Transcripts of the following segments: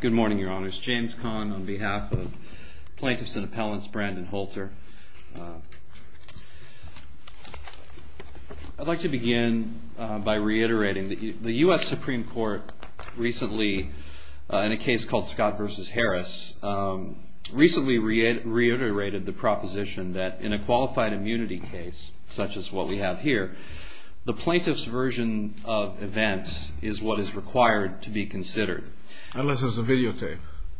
Good morning, Your Honors. James Kahn on behalf of Plaintiffs and Appellants, Brandon Holter. I'd like to begin by reiterating that the U.S. Supreme Court recently, in a case called Scott v. Harris, recently reiterated the proposition that in a qualified immunity case, such as what we have here, the plaintiff's version of events is what is required to be considered. Unless there's a videotape.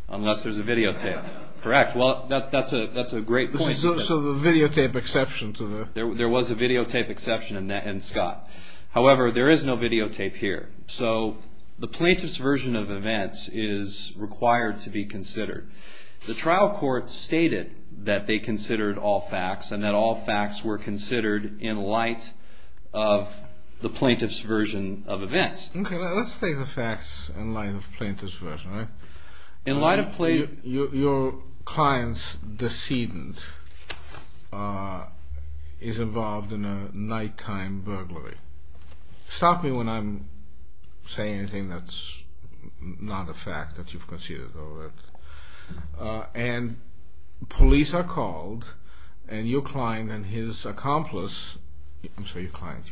Unless there's a videotape. Correct. Well, that's a great point. So the videotape exception to the... There was a videotape exception in Scott. However, there is no videotape here. So the plaintiff's version of events is required to be considered. The trial court stated that they considered all facts and that all facts were considered in light of the plaintiff's version of events. Okay, let's take the facts in light of the plaintiff's version. In light of... Your client's decedent is involved in a nighttime burglary. Stop me when I'm saying anything that's not a fact that you've considered. And police are called, and your client and his accomplice... I'm sorry, your client.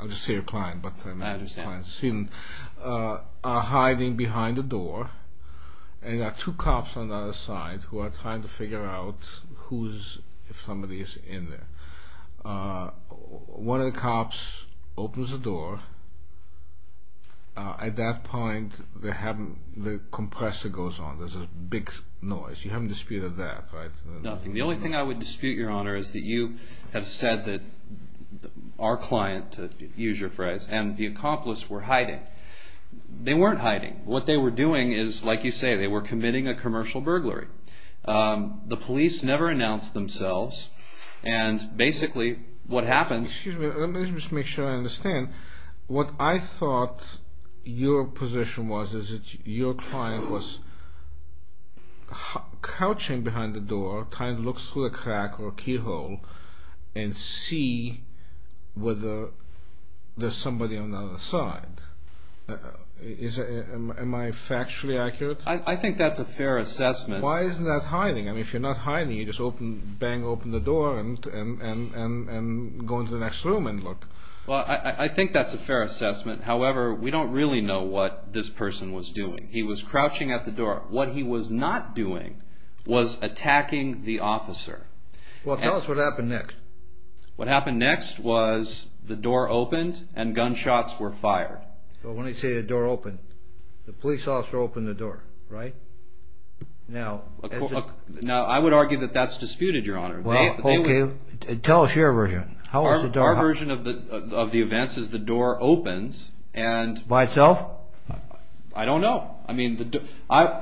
I'll just say your client. I understand. ...are hiding behind a door. And there are two cops on the other side who are trying to figure out if somebody is in there. One of the cops opens the door. At that point, the compressor goes on. There's a big noise. You haven't disputed that, right? Nothing. The only thing I would dispute, Your Honor, is that you have said that our client, to use your phrase, and the accomplice were hiding. They weren't hiding. What they were doing is, like you say, they were committing a commercial burglary. The police never announced themselves, and basically what happens... Excuse me. Let me just make sure I understand. What I thought your position was is that your client was couching behind the door, trying to look through a crack or a keyhole and see whether there's somebody on the other side. Am I factually accurate? I think that's a fair assessment. Why isn't that hiding? I mean, if you're not hiding, you just bang open the door and go into the next room and look. Well, I think that's a fair assessment. However, we don't really know what this person was doing. He was crouching at the door. What he was not doing was attacking the officer. Well, tell us what happened next. What happened next was the door opened and gunshots were fired. Well, when I say the door opened, the police officer opened the door, right? Now, I would argue that that's disputed, Your Honor. Tell us your version. Our version of the events is the door opens and... By itself? I don't know.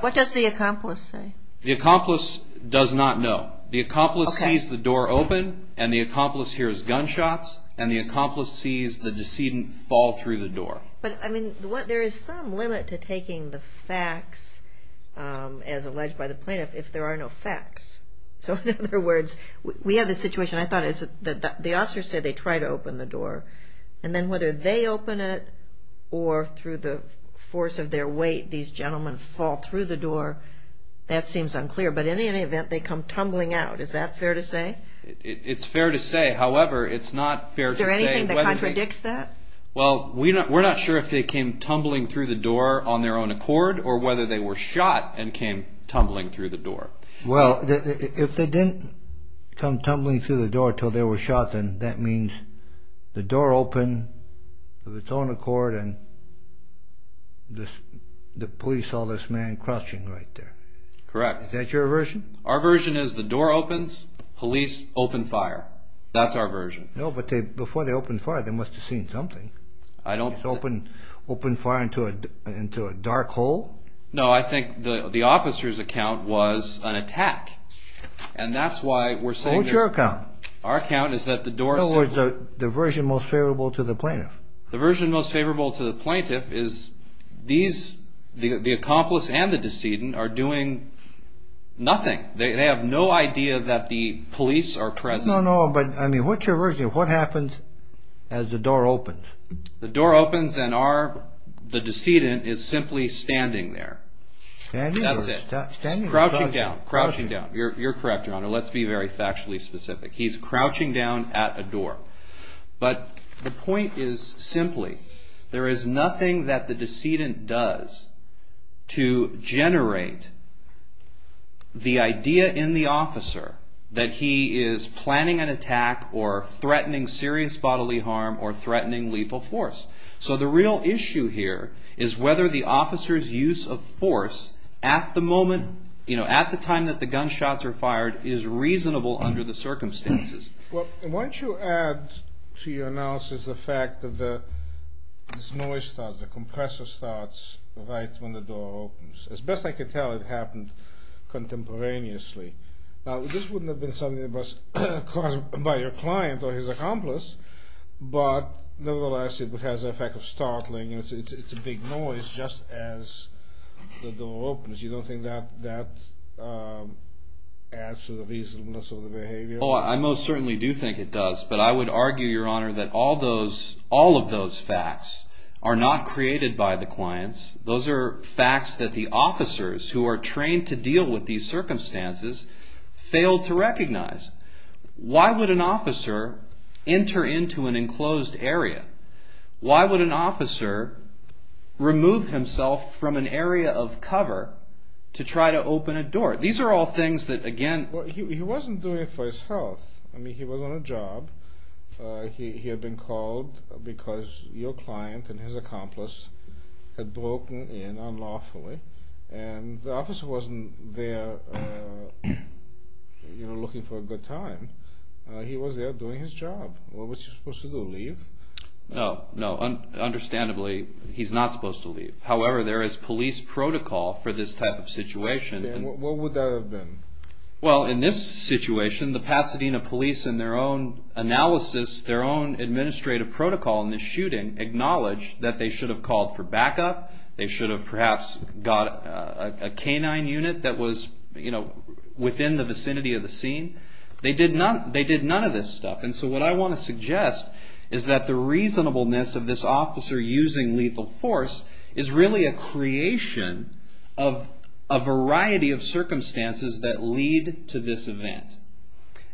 What does the accomplice say? The accomplice does not know. The accomplice sees the door open, and the accomplice hears gunshots, and the accomplice sees the decedent fall through the door. There is some limit to taking the facts, as alleged by the plaintiff, if there are no facts. So, in other words, we have this situation. I thought the officer said they tried to open the door, and then whether they open it or through the force of their weight, these gentlemen fall through the door, that seems unclear. But in any event, they come tumbling out. Is that fair to say? It's fair to say. However, it's not fair to say whether they... Is there anything that contradicts that? Well, we're not sure if they came tumbling through the door on their own accord or whether they were shot and came tumbling through the door. Well, if they didn't come tumbling through the door until they were shot, then that means the door opened of its own accord, and the police saw this man crouching right there. Correct. Is that your version? Our version is the door opens, police open fire. That's our version. No, but before they opened fire, they must have seen something. I don't think... Open fire into a dark hole? No, I think the officer's account was an attack, and that's why we're saying... What's your account? Our account is that the door simply... In other words, the version most favorable to the plaintiff. The version most favorable to the plaintiff is the accomplice and the decedent are doing nothing. They have no idea that the police are present. No, no, but I mean, what's your version? What happens as the door opens? The door opens and the decedent is simply standing there. Standing or crouching? Crouching down. You're correct, Your Honor. Let's be very factually specific. He's crouching down at a door. But the point is simply, there is nothing that the decedent does to generate the idea in the officer that he is planning an attack or threatening serious bodily harm or threatening lethal force. So the real issue here is whether the officer's use of force at the moment, at the time that the gunshots are fired, is reasonable under the circumstances. Why don't you add to your analysis the fact that this noise starts, the compressor starts right when the door opens. As best I can tell, it happened contemporaneously. Now this wouldn't have been something that was caused by your client or his accomplice, but nevertheless it has the effect of startling. It's a big noise just as the door opens. You don't think that adds to the reasonableness of the behavior? I most certainly do think it does, but I would argue, Your Honor, that all of those facts are not created by the clients. Those are facts that the officers who are trained to deal with these circumstances fail to recognize. Why would an officer enter into an enclosed area? Why would an officer remove himself from an area of cover to try to open a door? These are all things that, again... He wasn't doing it for his health. I mean, he was on a job. He had been called because your client and his accomplice had broken in unlawfully, and the officer wasn't there looking for a good time. He was there doing his job. What was he supposed to do, leave? No, understandably he's not supposed to leave. However, there is police protocol for this type of situation. What would that have been? Well, in this situation, the Pasadena police, in their own analysis, their own administrative protocol in this shooting, acknowledged that they should have called for backup. They should have perhaps got a canine unit that was within the vicinity of the scene. They did none of this stuff. And so what I want to suggest is that the reasonableness of this officer using lethal force is really a creation of a variety of circumstances that lead to this event.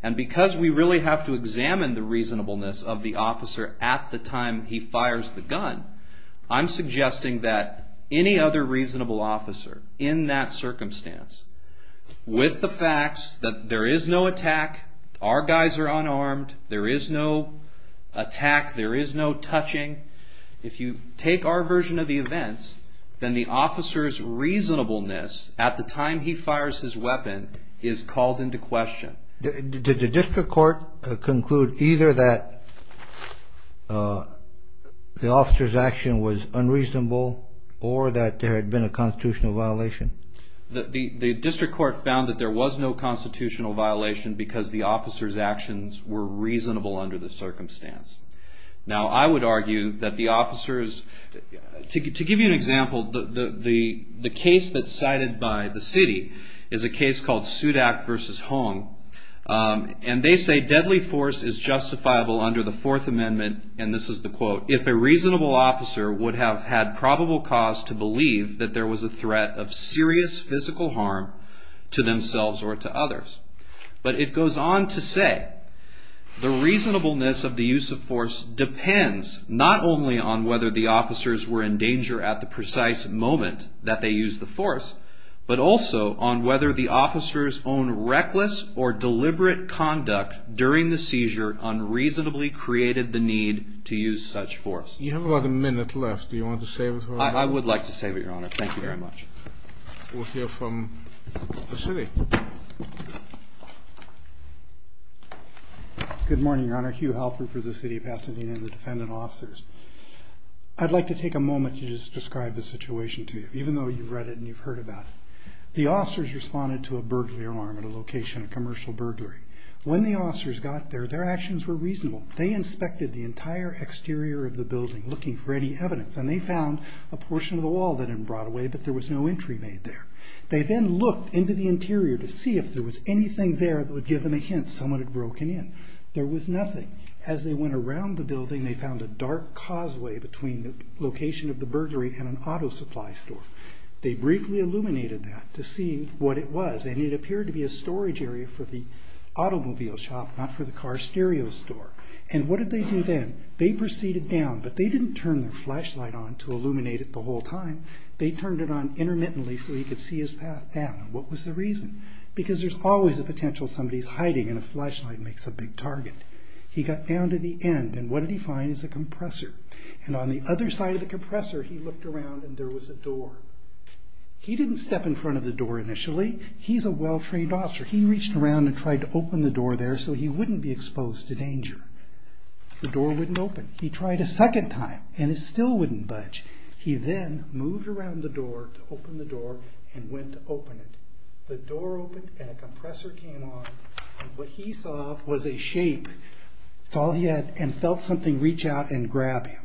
And because we really have to examine the reasonableness of the officer at the time he fires the gun, I'm suggesting that any other reasonable officer in that circumstance, with the facts that there is no attack, our guys are unarmed, there is no attack, there is no touching, if you take our version of the events, then the officer's reasonableness at the time he fires his weapon is called into question. Did the district court conclude either that the officer's action was unreasonable or that there had been a constitutional violation? The district court found that there was no constitutional violation because the officer's actions were reasonable under the circumstance. Now, I would argue that the officers... To give you an example, the case that's cited by the city is a case called Sudak v. Hong, and they say deadly force is justifiable under the Fourth Amendment, and this is the quote, if a reasonable officer would have had probable cause to believe that there was a threat of serious physical harm to themselves or to others. But it goes on to say, the reasonableness of the use of force depends not only on whether the officers were in danger at the precise moment that they used the force, but also on whether the officers' own reckless or deliberate conduct during the seizure unreasonably created the need to use such force. You have about a minute left. Do you want to say it? I would like to say it, Your Honor. Thank you very much. We'll hear from the city. Good morning, Your Honor. Hugh Halpern for the City of Pasadena and the defendant officers. I'd like to take a moment to just describe the situation to you, even though you've read it and you've heard about it. The officers responded to a burglary alarm at a location, a commercial burglary. When the officers got there, their actions were reasonable. They inspected the entire exterior of the building looking for any evidence, and they found a portion of the wall that had been brought away, but there was no entry made there. They then looked into the interior to see if there was anything there that would give them a hint someone had broken in. There was nothing. As they went around the building, they found a dark causeway between the location of the burglary and an auto supply store. They briefly illuminated that to see what it was, and it appeared to be a storage area for the automobile shop, not for the car stereo store. And what did they do then? They proceeded down, but they didn't turn their flashlight on to illuminate it the whole time. They turned it on intermittently so he could see his path down. What was the reason? Because there's always a potential somebody's hiding, and a flashlight makes a big target. He got down to the end, and what did he find? It was a compressor. On the other side of the compressor, he looked around, and there was a door. He didn't step in front of the door initially. He's a well-framed officer. He reached around and tried to open the door there so he wouldn't be exposed to danger. The door wouldn't open. He tried a second time, and it still wouldn't budge. He then moved around the door to open the door and went to open it. The door opened, and a compressor came on, and what he saw was a shape, that's all he had, and felt something reach out and grab him.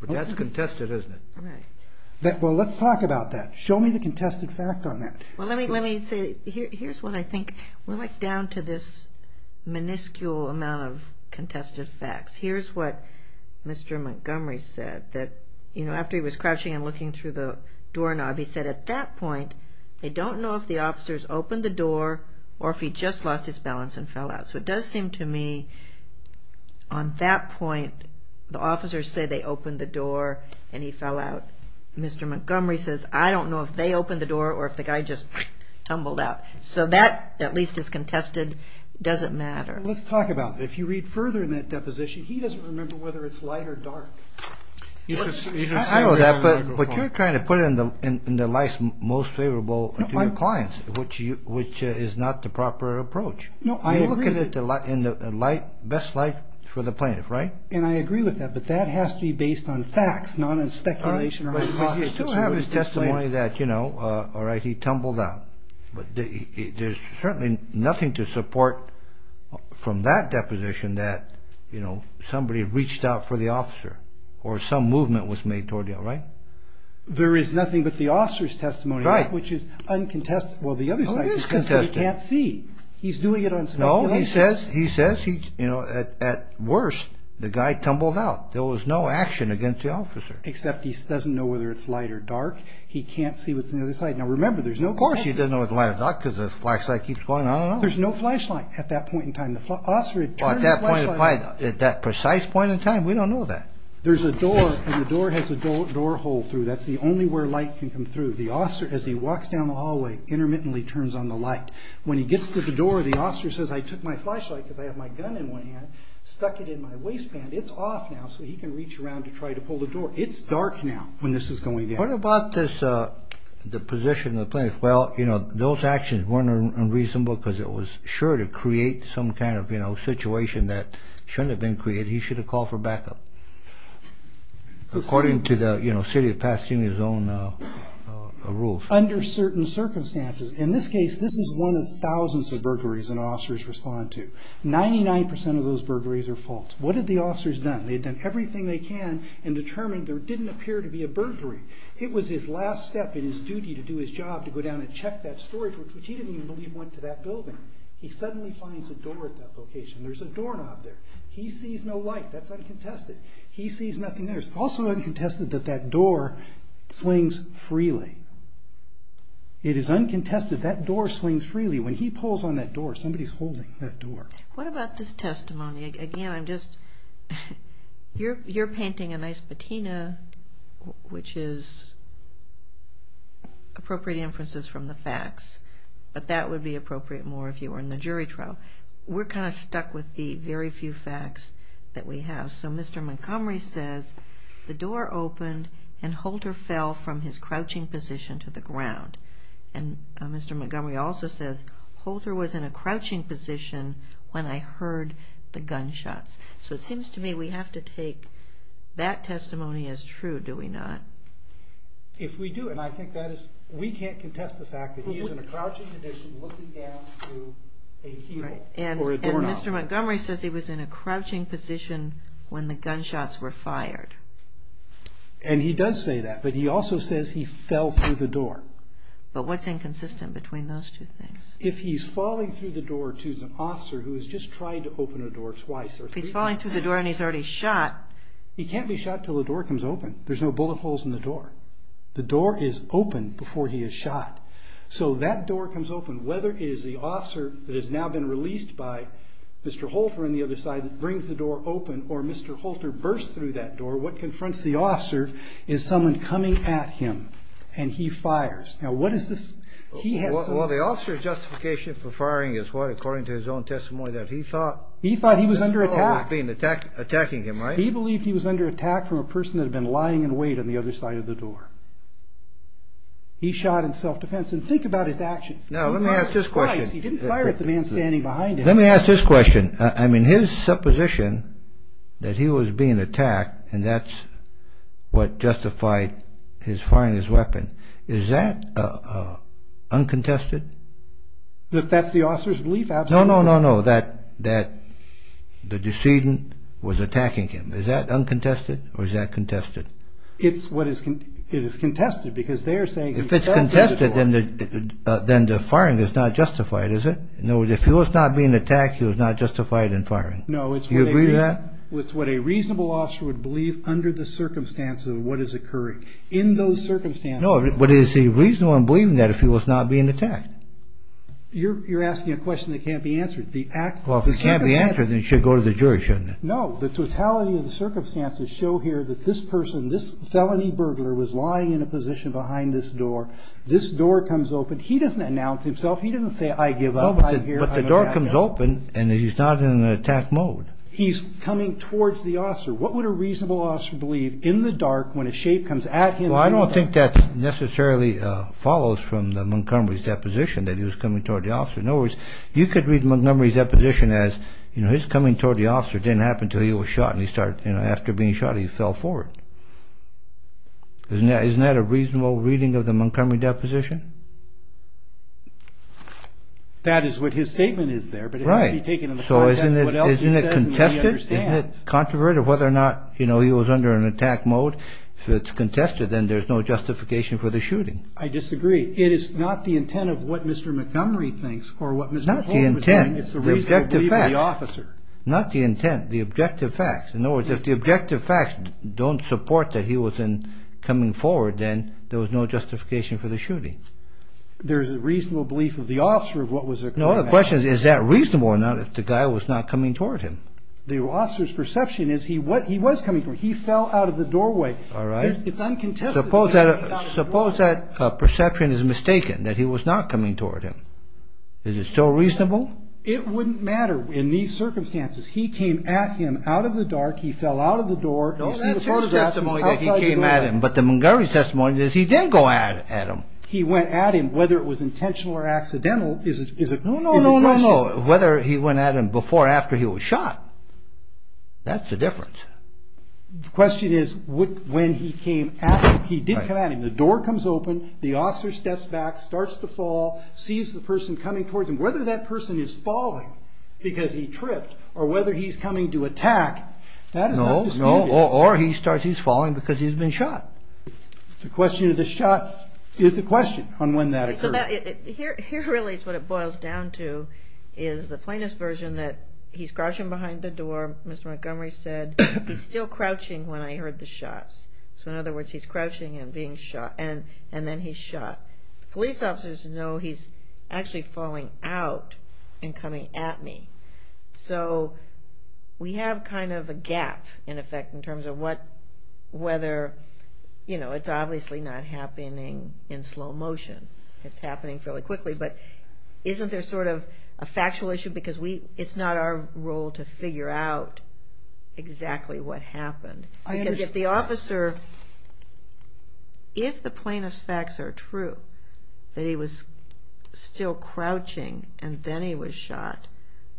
But that's contested, isn't it? Right. Well, let's talk about that. Show me the contested fact on that. Well, let me say, here's what I think. We're, like, down to this minuscule amount of contested facts. Here's what Mr. Montgomery said. After he was crouching and looking through the doorknob, he said, at that point, they don't know if the officers opened the door or if he just lost his balance and fell out. So it does seem to me, on that point, the officers say they opened the door and he fell out. Mr. Montgomery says, I don't know if they opened the door or if the guy just tumbled out. So that, at least, is contested. It doesn't matter. Let's talk about it. If you read further in that deposition, he doesn't remember whether it's light or dark. I know that, but you're trying to put it in the life's most favorable to your clients, which is not the proper approach. You're looking at the best life for the plaintiff, right? And I agree with that, but that has to be based on facts, not on speculation or hypothesis. But you still have his testimony that, you know, all right, he tumbled out. But there's certainly nothing to support from that deposition that somebody reached out for the officer or some movement was made toward the officer, right? There is nothing but the officer's testimony, which is uncontested. Well, the other side is because he can't see. He's doing it on speculation. No, he says, you know, at worst, the guy tumbled out. There was no action against the officer. Except he doesn't know whether it's light or dark. He can't see what's on the other side. Now, remember, there's no question. Of course he doesn't know whether it's light or dark because the flashlight keeps going on and on. There's no flashlight at that point in time. The officer had turned the flashlight off. At that precise point in time? We don't know that. There's a door, and the door has a door hole through. That's the only where light can come through. The officer, as he walks down the hallway, intermittently turns on the light. When he gets to the door, the officer says, I took my flashlight because I have my gun in one hand, stuck it in my waistband. It's off now, so he can reach around to try to pull the door. It's dark now when this is going down. What about the position of the plaintiff? Those actions weren't unreasonable because it was sure to create some kind of situation that shouldn't have been created. He should have called for backup, according to the City of Pasadena's own rules. Under certain circumstances. In this case, this is one of thousands of burglaries that our officers respond to. Ninety-nine percent of those burglaries are faults. What have the officers done? They've done everything they can and determined there didn't appear to be a burglary. It was his last step in his duty to do his job to go down and check that storage, which he didn't even believe went to that building. He suddenly finds a door at that location. There's a doorknob there. He sees no light. That's uncontested. He sees nothing there. It's also uncontested that that door swings freely. It is uncontested. That door swings freely. When he pulls on that door, somebody's holding that door. What about this testimony? Again, you're painting a nice patina, which is appropriate inferences from the facts, but that would be appropriate more if you were in the jury trial. We're kind of stuck with the very few facts that we have. So Mr. Montgomery says, The door opened and Holter fell from his crouching position to the ground. And Mr. Montgomery also says, Holter was in a crouching position when I heard the gunshots. So it seems to me we have to take that testimony as true, do we not? If we do, and I think that is, we can't contest the fact that he is in a crouching position looking down through a keel or a doorknob. And Mr. Montgomery says he was in a crouching position when the gunshots were fired. And he does say that, but he also says he fell through the door. But what's inconsistent between those two things? If he's falling through the door to an officer who has just tried to open a door twice or three times. If he's falling through the door and he's already shot. He can't be shot until the door comes open. There's no bullet holes in the door. The door is open before he is shot. So that door comes open, whether it is the officer that has now been released by Mr. Holter on the other side that brings the door open or Mr. Holter bursts through that door, what confronts the officer is someone coming at him and he fires. Now what is this? Well, the officer's justification for firing is what? According to his own testimony that he thought. He thought he was under attack. He thought he was being attacked, attacking him, right? He believed he was under attack from a person that had been lying in wait on the other side of the door. He shot in self-defense. And think about his actions. Now let me ask this question. He didn't fire at the man standing behind him. Let me ask this question. I mean, his supposition that he was being attacked and that's what justified his firing his weapon, is that uncontested? That that's the officer's belief? Absolutely. No, no, no, no, that the decedent was attacking him. Is that uncontested or is that contested? It is contested because they are saying he fired at the door. If it's contested, then the firing is not justified, is it? No, if he was not being attacked, he was not justified in firing. Do you agree with that? No, it's what a reasonable officer would believe under the circumstances of what is occurring. In those circumstances. No, but is he reasonable in believing that if he was not being attacked? You're asking a question that can't be answered. Well, if it can't be answered, then it should go to the jury, shouldn't it? No, the totality of the circumstances show here that this person, this felony burglar was lying in a position behind this door. This door comes open. He doesn't announce himself. He doesn't say, I give up. No, but the door comes open and he's not in an attack mode. He's coming towards the officer. What would a reasonable officer believe in the dark when a shape comes at him? Well, I don't think that necessarily follows from Montgomery's deposition that he was coming toward the officer. In other words, you could read Montgomery's deposition as, you know, his coming toward the officer didn't happen until he was shot and he started, you know, after being shot, he fell forward. Isn't that a reasonable reading of the Montgomery deposition? That is what his statement is there. Right. But it has to be taken in the context of what else he says and what he understands. So isn't it contested? Isn't it controverted whether or not, you know, he was under an attack mode? If it's contested, then there's no justification for the shooting. I disagree. It is not the intent of what Mr. Montgomery thinks or what Mr. Hall was doing. Not the intent. It's the reasonable belief of the officer. Not the intent. The objective facts. In other words, if the objective facts don't support that he was coming forward, then there was no justification for the shooting. There's a reasonable belief of the officer of what was occurring. No, the question is, is that reasonable or not if the guy was not coming toward him? The officer's perception is he was coming toward him. He fell out of the doorway. All right. It's uncontested. Suppose that perception is mistaken, that he was not coming toward him. Is it still reasonable? It wouldn't matter in these circumstances. He came at him out of the dark. He fell out of the door. You see the photographs. That's his testimony that he came at him. But the Montgomery testimony is he did go at him. He went at him, whether it was intentional or accidental is a question. No, no, no, no, no. Whether he went at him before or after he was shot, that's the difference. The question is when he came at him. He did come at him. The door comes open. The officer steps back, starts to fall, sees the person coming toward him. Whether that person is falling because he tripped or whether he's coming to attack, that is not disputed. No, no, or he's falling because he's been shot. The question of the shots is a question on when that occurred. Here really is what it boils down to is the plaintiff's version that he's crouching behind the door. Mr. Montgomery said, he's still crouching when I heard the shots. So in other words, he's crouching and being shot, and then he's shot. Police officers know he's actually falling out and coming at me. So we have kind of a gap, in effect, in terms of whether, you know, it's obviously not happening in slow motion. It's happening fairly quickly, but isn't there sort of a factual issue? Because it's not our role to figure out exactly what happened. The officer, if the plaintiff's facts are true, that he was still crouching and then he was shot,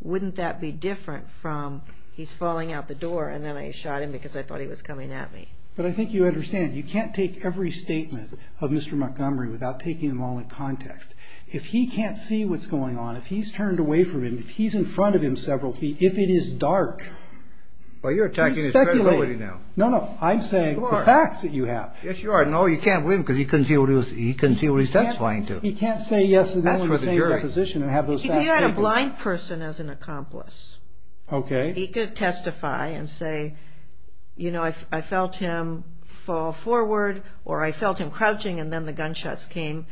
wouldn't that be different from he's falling out the door and then I shot him because I thought he was coming at me? But I think you understand, you can't take every statement of Mr. Montgomery without taking them all in context. If he can't see what's going on, if he's turned away from him, if he's in front of him several feet, if it is dark, Well, you're attacking his credibility now. No, no, I'm saying the facts that you have. Yes, you are. No, you can't win because he can't see what he's testifying to. He can't say yes or no in the same position and have those facts. If you had a blind person as an accomplice, he could testify and say, you know, I felt him fall forward or I felt him crouching and then the gunshots came.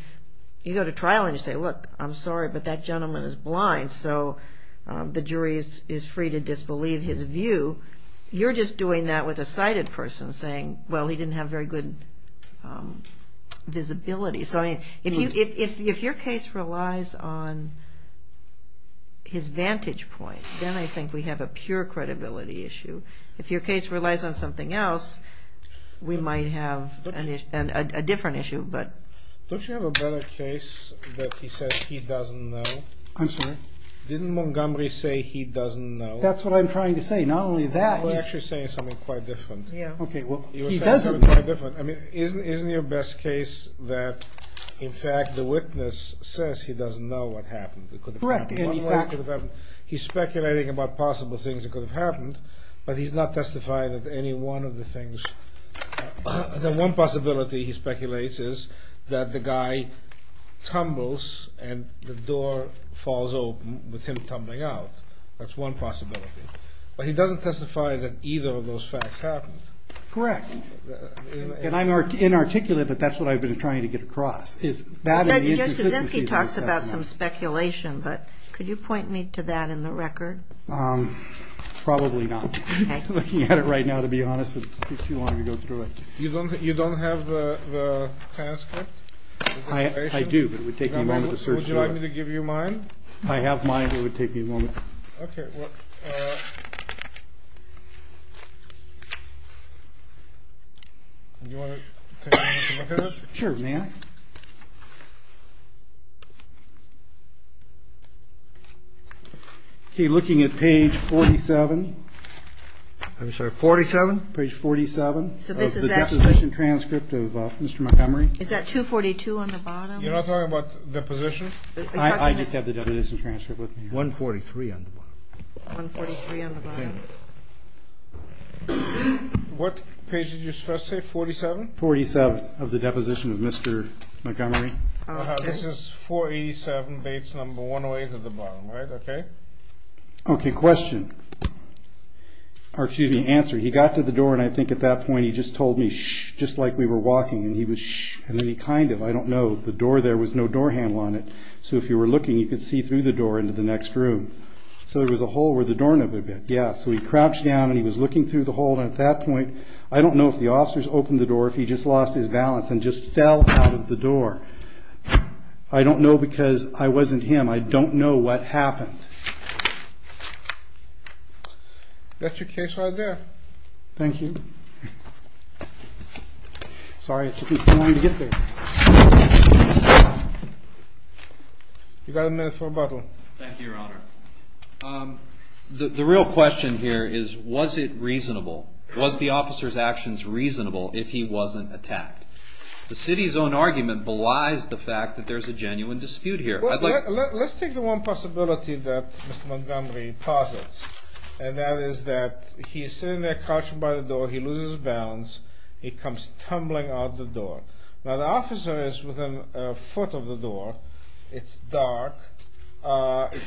You go to trial and you say, look, I'm sorry, but that gentleman is blind. So the jury is free to disbelieve his view. You're just doing that with a sighted person saying, well, he didn't have very good visibility. So if your case relies on his vantage point, then I think we have a pure credibility issue. If your case relies on something else, we might have a different issue. Don't you have a better case that he says he doesn't know? I'm sorry. Didn't Montgomery say he doesn't know? That's what I'm trying to say. Not only that. You're actually saying something quite different. Okay, well, he doesn't know. I mean, isn't your best case that, in fact, the witness says he doesn't know what happened? Correct. He's speculating about possible things that could have happened, but he's not testifying of any one of the things. The one possibility he speculates is that the guy tumbles and the door falls open with him tumbling out. That's one possibility. But he doesn't testify that either of those facts happened. Correct. And I'm inarticulate, but that's what I've been trying to get across. Judge Kuczynski talks about some speculation, but could you point me to that in the record? Probably not. I'm looking at it right now, to be honest. It would take too long to go through it. You don't have the transcript? I do, but it would take me a moment to search through it. Would you like me to give you mine? I have mine. It would take me a moment. Okay. Do you want to take a moment to look at it? Sure, may I? Okay. Looking at page 47. I'm sorry, 47? Page 47 of the deposition transcript of Mr. Montgomery. Is that 242 on the bottom? You're not talking about the deposition? I just have the deposition transcript with me. 143 on the bottom. 143 on the bottom. What page did you first say, 47? 47 of the deposition of Mr. Montgomery. This is 487, base number 108 at the bottom, right? Okay. Okay, question. Or excuse me, answer. He got to the door, and I think at that point he just told me, shh, just like we were walking. And he was, shh, and then he kind of, I don't know, the door there was no door handle on it, so if you were looking, you could see through the door into the next room. So there was a hole where the door nibbled a bit. Yeah, so he crouched down and he was looking through the hole. And at that point, I don't know if the officers opened the door or if he just lost his balance and just fell out of the door. I don't know because I wasn't him. I don't know what happened. That's your case right there. Thank you. Sorry, it took me so long to get there. You've got a minute for rebuttal. Thank you, Your Honor. The real question here is was it reasonable? Was the officer's actions reasonable if he wasn't attacked? The city's own argument belies the fact that there's a genuine dispute here. Let's take the one possibility that Mr. Montgomery posits, and that is that he's sitting there crouching by the door. He loses his balance. He comes tumbling out the door. Now, the officer is within a foot of the door. It's dark.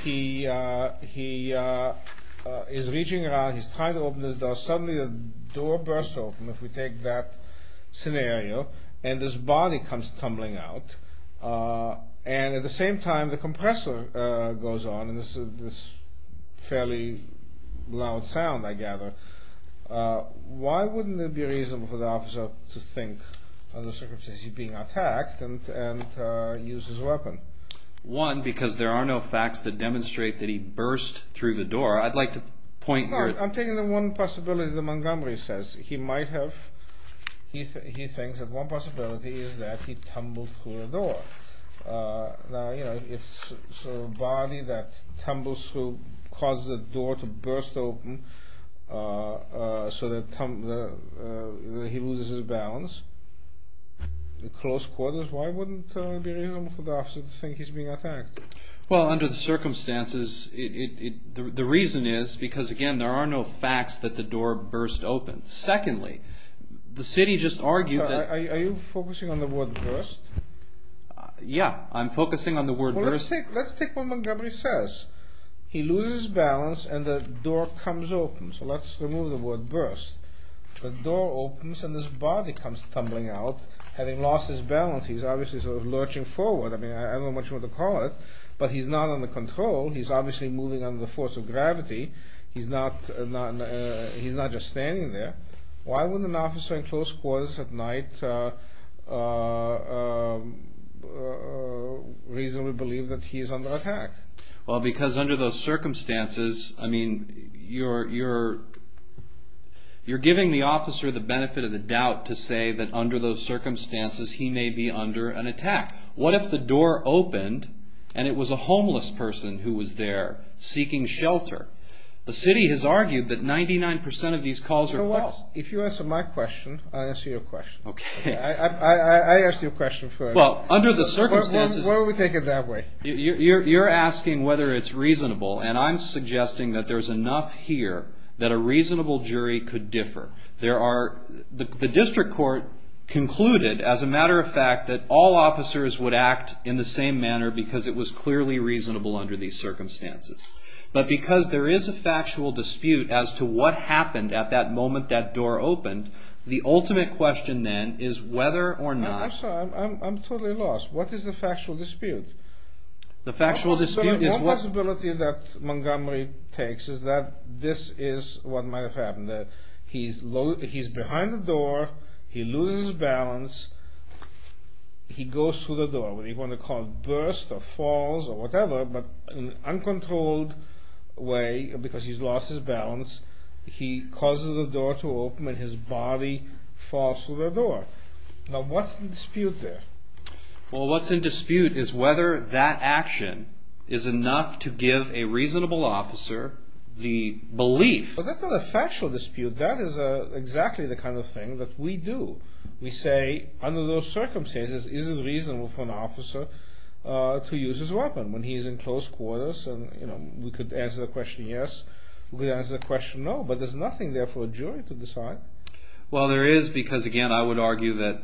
He is reaching around. He's trying to open his door. Suddenly, the door bursts open, if we take that scenario, and his body comes tumbling out. And at the same time, the compressor goes on, and there's this fairly loud sound, I gather. Why wouldn't it be reasonable for the officer to think of the circumstances of being attacked and use his weapon? One, because there are no facts that demonstrate that he burst through the door. I'd like to point your... No, I'm taking the one possibility that Montgomery says. He might have. He thinks that one possibility is that he tumbled through the door. Now, you know, it's sort of a body that tumbles through, causes the door to burst open, so that he loses his balance. The close quarters. Why wouldn't it be reasonable for the officer to think he's being attacked? Well, under the circumstances, the reason is because, again, there are no facts that the door burst open. Secondly, the city just argued that... Are you focusing on the word burst? Yeah, I'm focusing on the word burst. Well, let's take what Montgomery says. He loses his balance, and the door comes open. So let's remove the word burst. The door opens, and this body comes tumbling out. Having lost his balance, he's obviously sort of lurching forward. I mean, I don't know much what to call it, but he's not under control. He's obviously moving under the force of gravity. He's not just standing there. Why wouldn't an officer in close quarters at night reasonably believe that he is under attack? Well, because under those circumstances, I mean, you're giving the officer the benefit of the doubt to say that under those circumstances he may be under an attack. What if the door opened, and it was a homeless person who was there seeking shelter? The city has argued that 99% of these calls are false. If you answer my question, I'll answer your question. Okay. I asked you a question first. Well, under the circumstances... Why would we take it that way? You're asking whether it's reasonable, and I'm suggesting that there's enough here that a reasonable jury could differ. The district court concluded, as a matter of fact, that all officers would act in the same manner because it was clearly reasonable under these circumstances. But because there is a factual dispute as to what happened at that moment that door opened, the ultimate question then is whether or not... I'm sorry. I'm totally lost. What is the factual dispute? The factual dispute is... One possibility that Montgomery takes is that this is what might have happened, that he's behind the door, he loses his balance, he goes through the door, whether you want to call it a burst or falls or whatever, but in an uncontrolled way, because he's lost his balance, he causes the door to open and his body falls through the door. Now, what's the dispute there? Well, what's in dispute is whether that action is enough to give a reasonable officer the belief... Well, that's not a factual dispute. That is exactly the kind of thing that we do. We say, under those circumstances, is it reasonable for an officer to use his weapon when he's in close quarters? And we could answer the question yes, we could answer the question no, but there's nothing there for a jury to decide. Well, there is because, again, I would argue that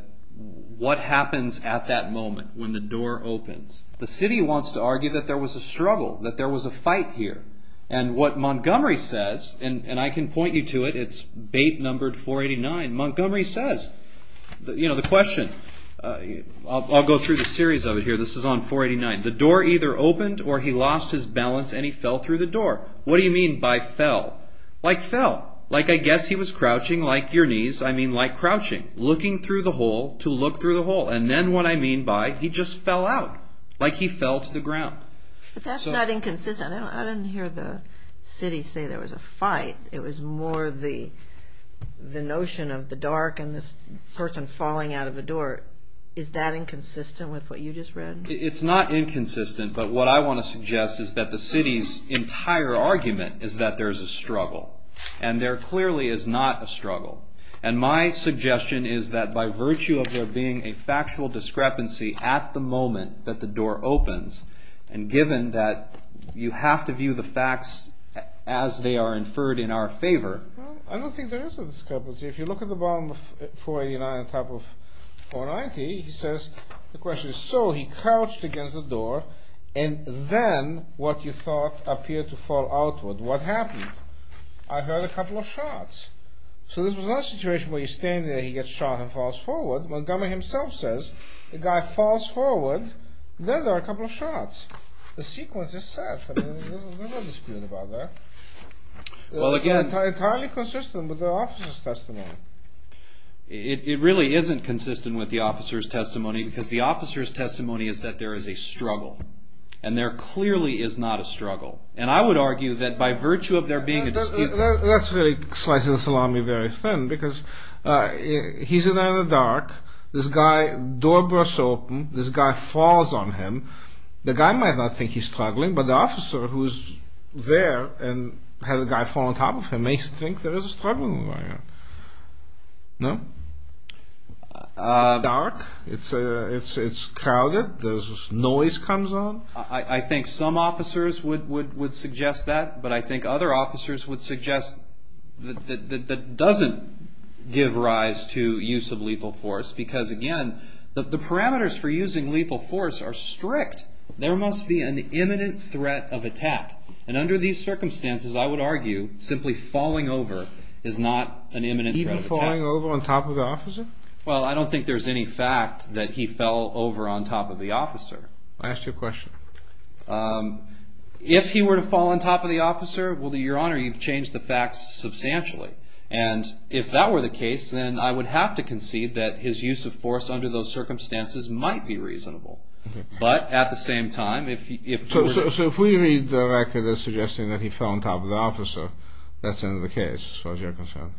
what happens at that moment when the door opens, the city wants to argue that there was a struggle, that there was a fight here. And what Montgomery says, and I can point you to it, it's bait numbered 489, Montgomery says, you know, the question, I'll go through the series of it here, this is on 489, the door either opened or he lost his balance and he fell through the door. What do you mean by fell? Like fell, like I guess he was crouching, like your knees, I mean like crouching, looking through the hole to look through the hole. And then what I mean by he just fell out, like he fell to the ground. But that's not inconsistent. I didn't hear the city say there was a fight. It was more the notion of the dark and this person falling out of a door. Is that inconsistent with what you just read? It's not inconsistent, but what I want to suggest is that the city's entire argument is that there's a struggle. And there clearly is not a struggle. And my suggestion is that by virtue of there being a factual discrepancy at the moment that the door opens, and given that you have to view the facts as they are inferred in our favor. Well, I don't think there is a discrepancy. If you look at the bottom of 489 on top of 490, he says, the question is, so he crouched against the door and then what you thought appeared to fall outward. What happened? I heard a couple of shots. So this was not a situation where he's standing there, he gets shot and falls forward. Montgomery himself says, the guy falls forward, then there are a couple of shots. The sequence is set. There's no dispute about that. It's entirely consistent with the officer's testimony. It really isn't consistent with the officer's testimony because the officer's testimony is that there is a struggle. And there clearly is not a struggle. And I would argue that by virtue of there being a dispute. That's really slicing the salami very thin because he's in there in the dark. This guy, door bursts open. This guy falls on him. The guy might not think he's struggling, but the officer who's there and had the guy fall on top of him may think there is a struggling going on. No? Dark. It's crowded. There's noise comes on. I think some officers would suggest that. But I think other officers would suggest that doesn't give rise to use of lethal force. Because, again, the parameters for using lethal force are strict. There must be an imminent threat of attack. And under these circumstances, I would argue, simply falling over is not an imminent threat of attack. Even falling over on top of the officer? Well, I don't think there's any fact that he fell over on top of the officer. I asked you a question. If he were to fall on top of the officer, well, Your Honor, you've changed the facts substantially. And if that were the case, then I would have to concede that his use of force under those circumstances might be reasonable. But at the same time, if... So if we read the record as suggesting that he fell on top of the officer, that's in the case as far as you're concerned?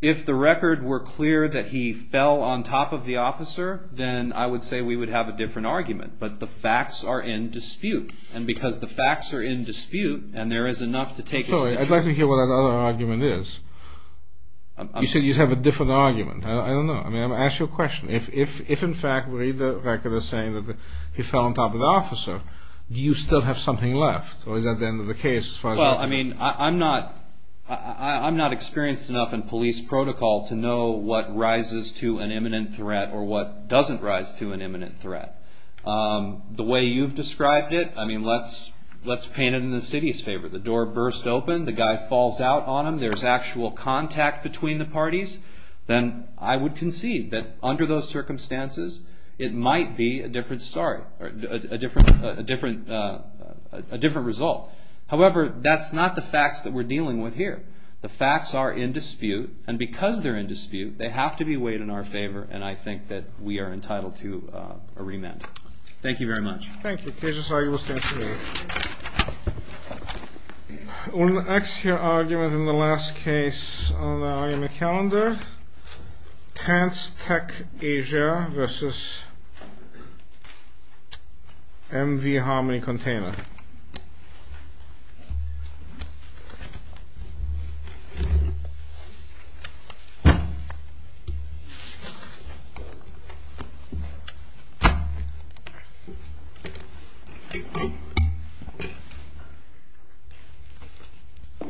If the record were clear that he fell on top of the officer, then I would say we would have a different argument. But the facts are in dispute. And because the facts are in dispute, and there is enough to take... I'd like to hear what that other argument is. You said you'd have a different argument. I don't know. I mean, I'm going to ask you a question. If, in fact, we read the record as saying that he fell on top of the officer, do you still have something left? Or is that the end of the case as far as you're concerned? Well, I mean, I'm not experienced enough in police protocol to know what rises to an imminent threat or what doesn't rise to an imminent threat. The way you've described it, I mean, let's paint it in the city's favor. The door bursts open, the guy falls out on him, there's actual contact between the parties. Then I would concede that under those circumstances, it might be a different story, a different result. However, that's not the facts that we're dealing with here. The facts are in dispute. And because they're in dispute, they have to be weighed in our favor. And I think that we are entitled to a remand. Thank you very much. Thank you. KJ's argument stands adjourned. On the exterior argument in the last case on the argument calendar, TANSTEC Asia versus MV Harmony Container. Thank you.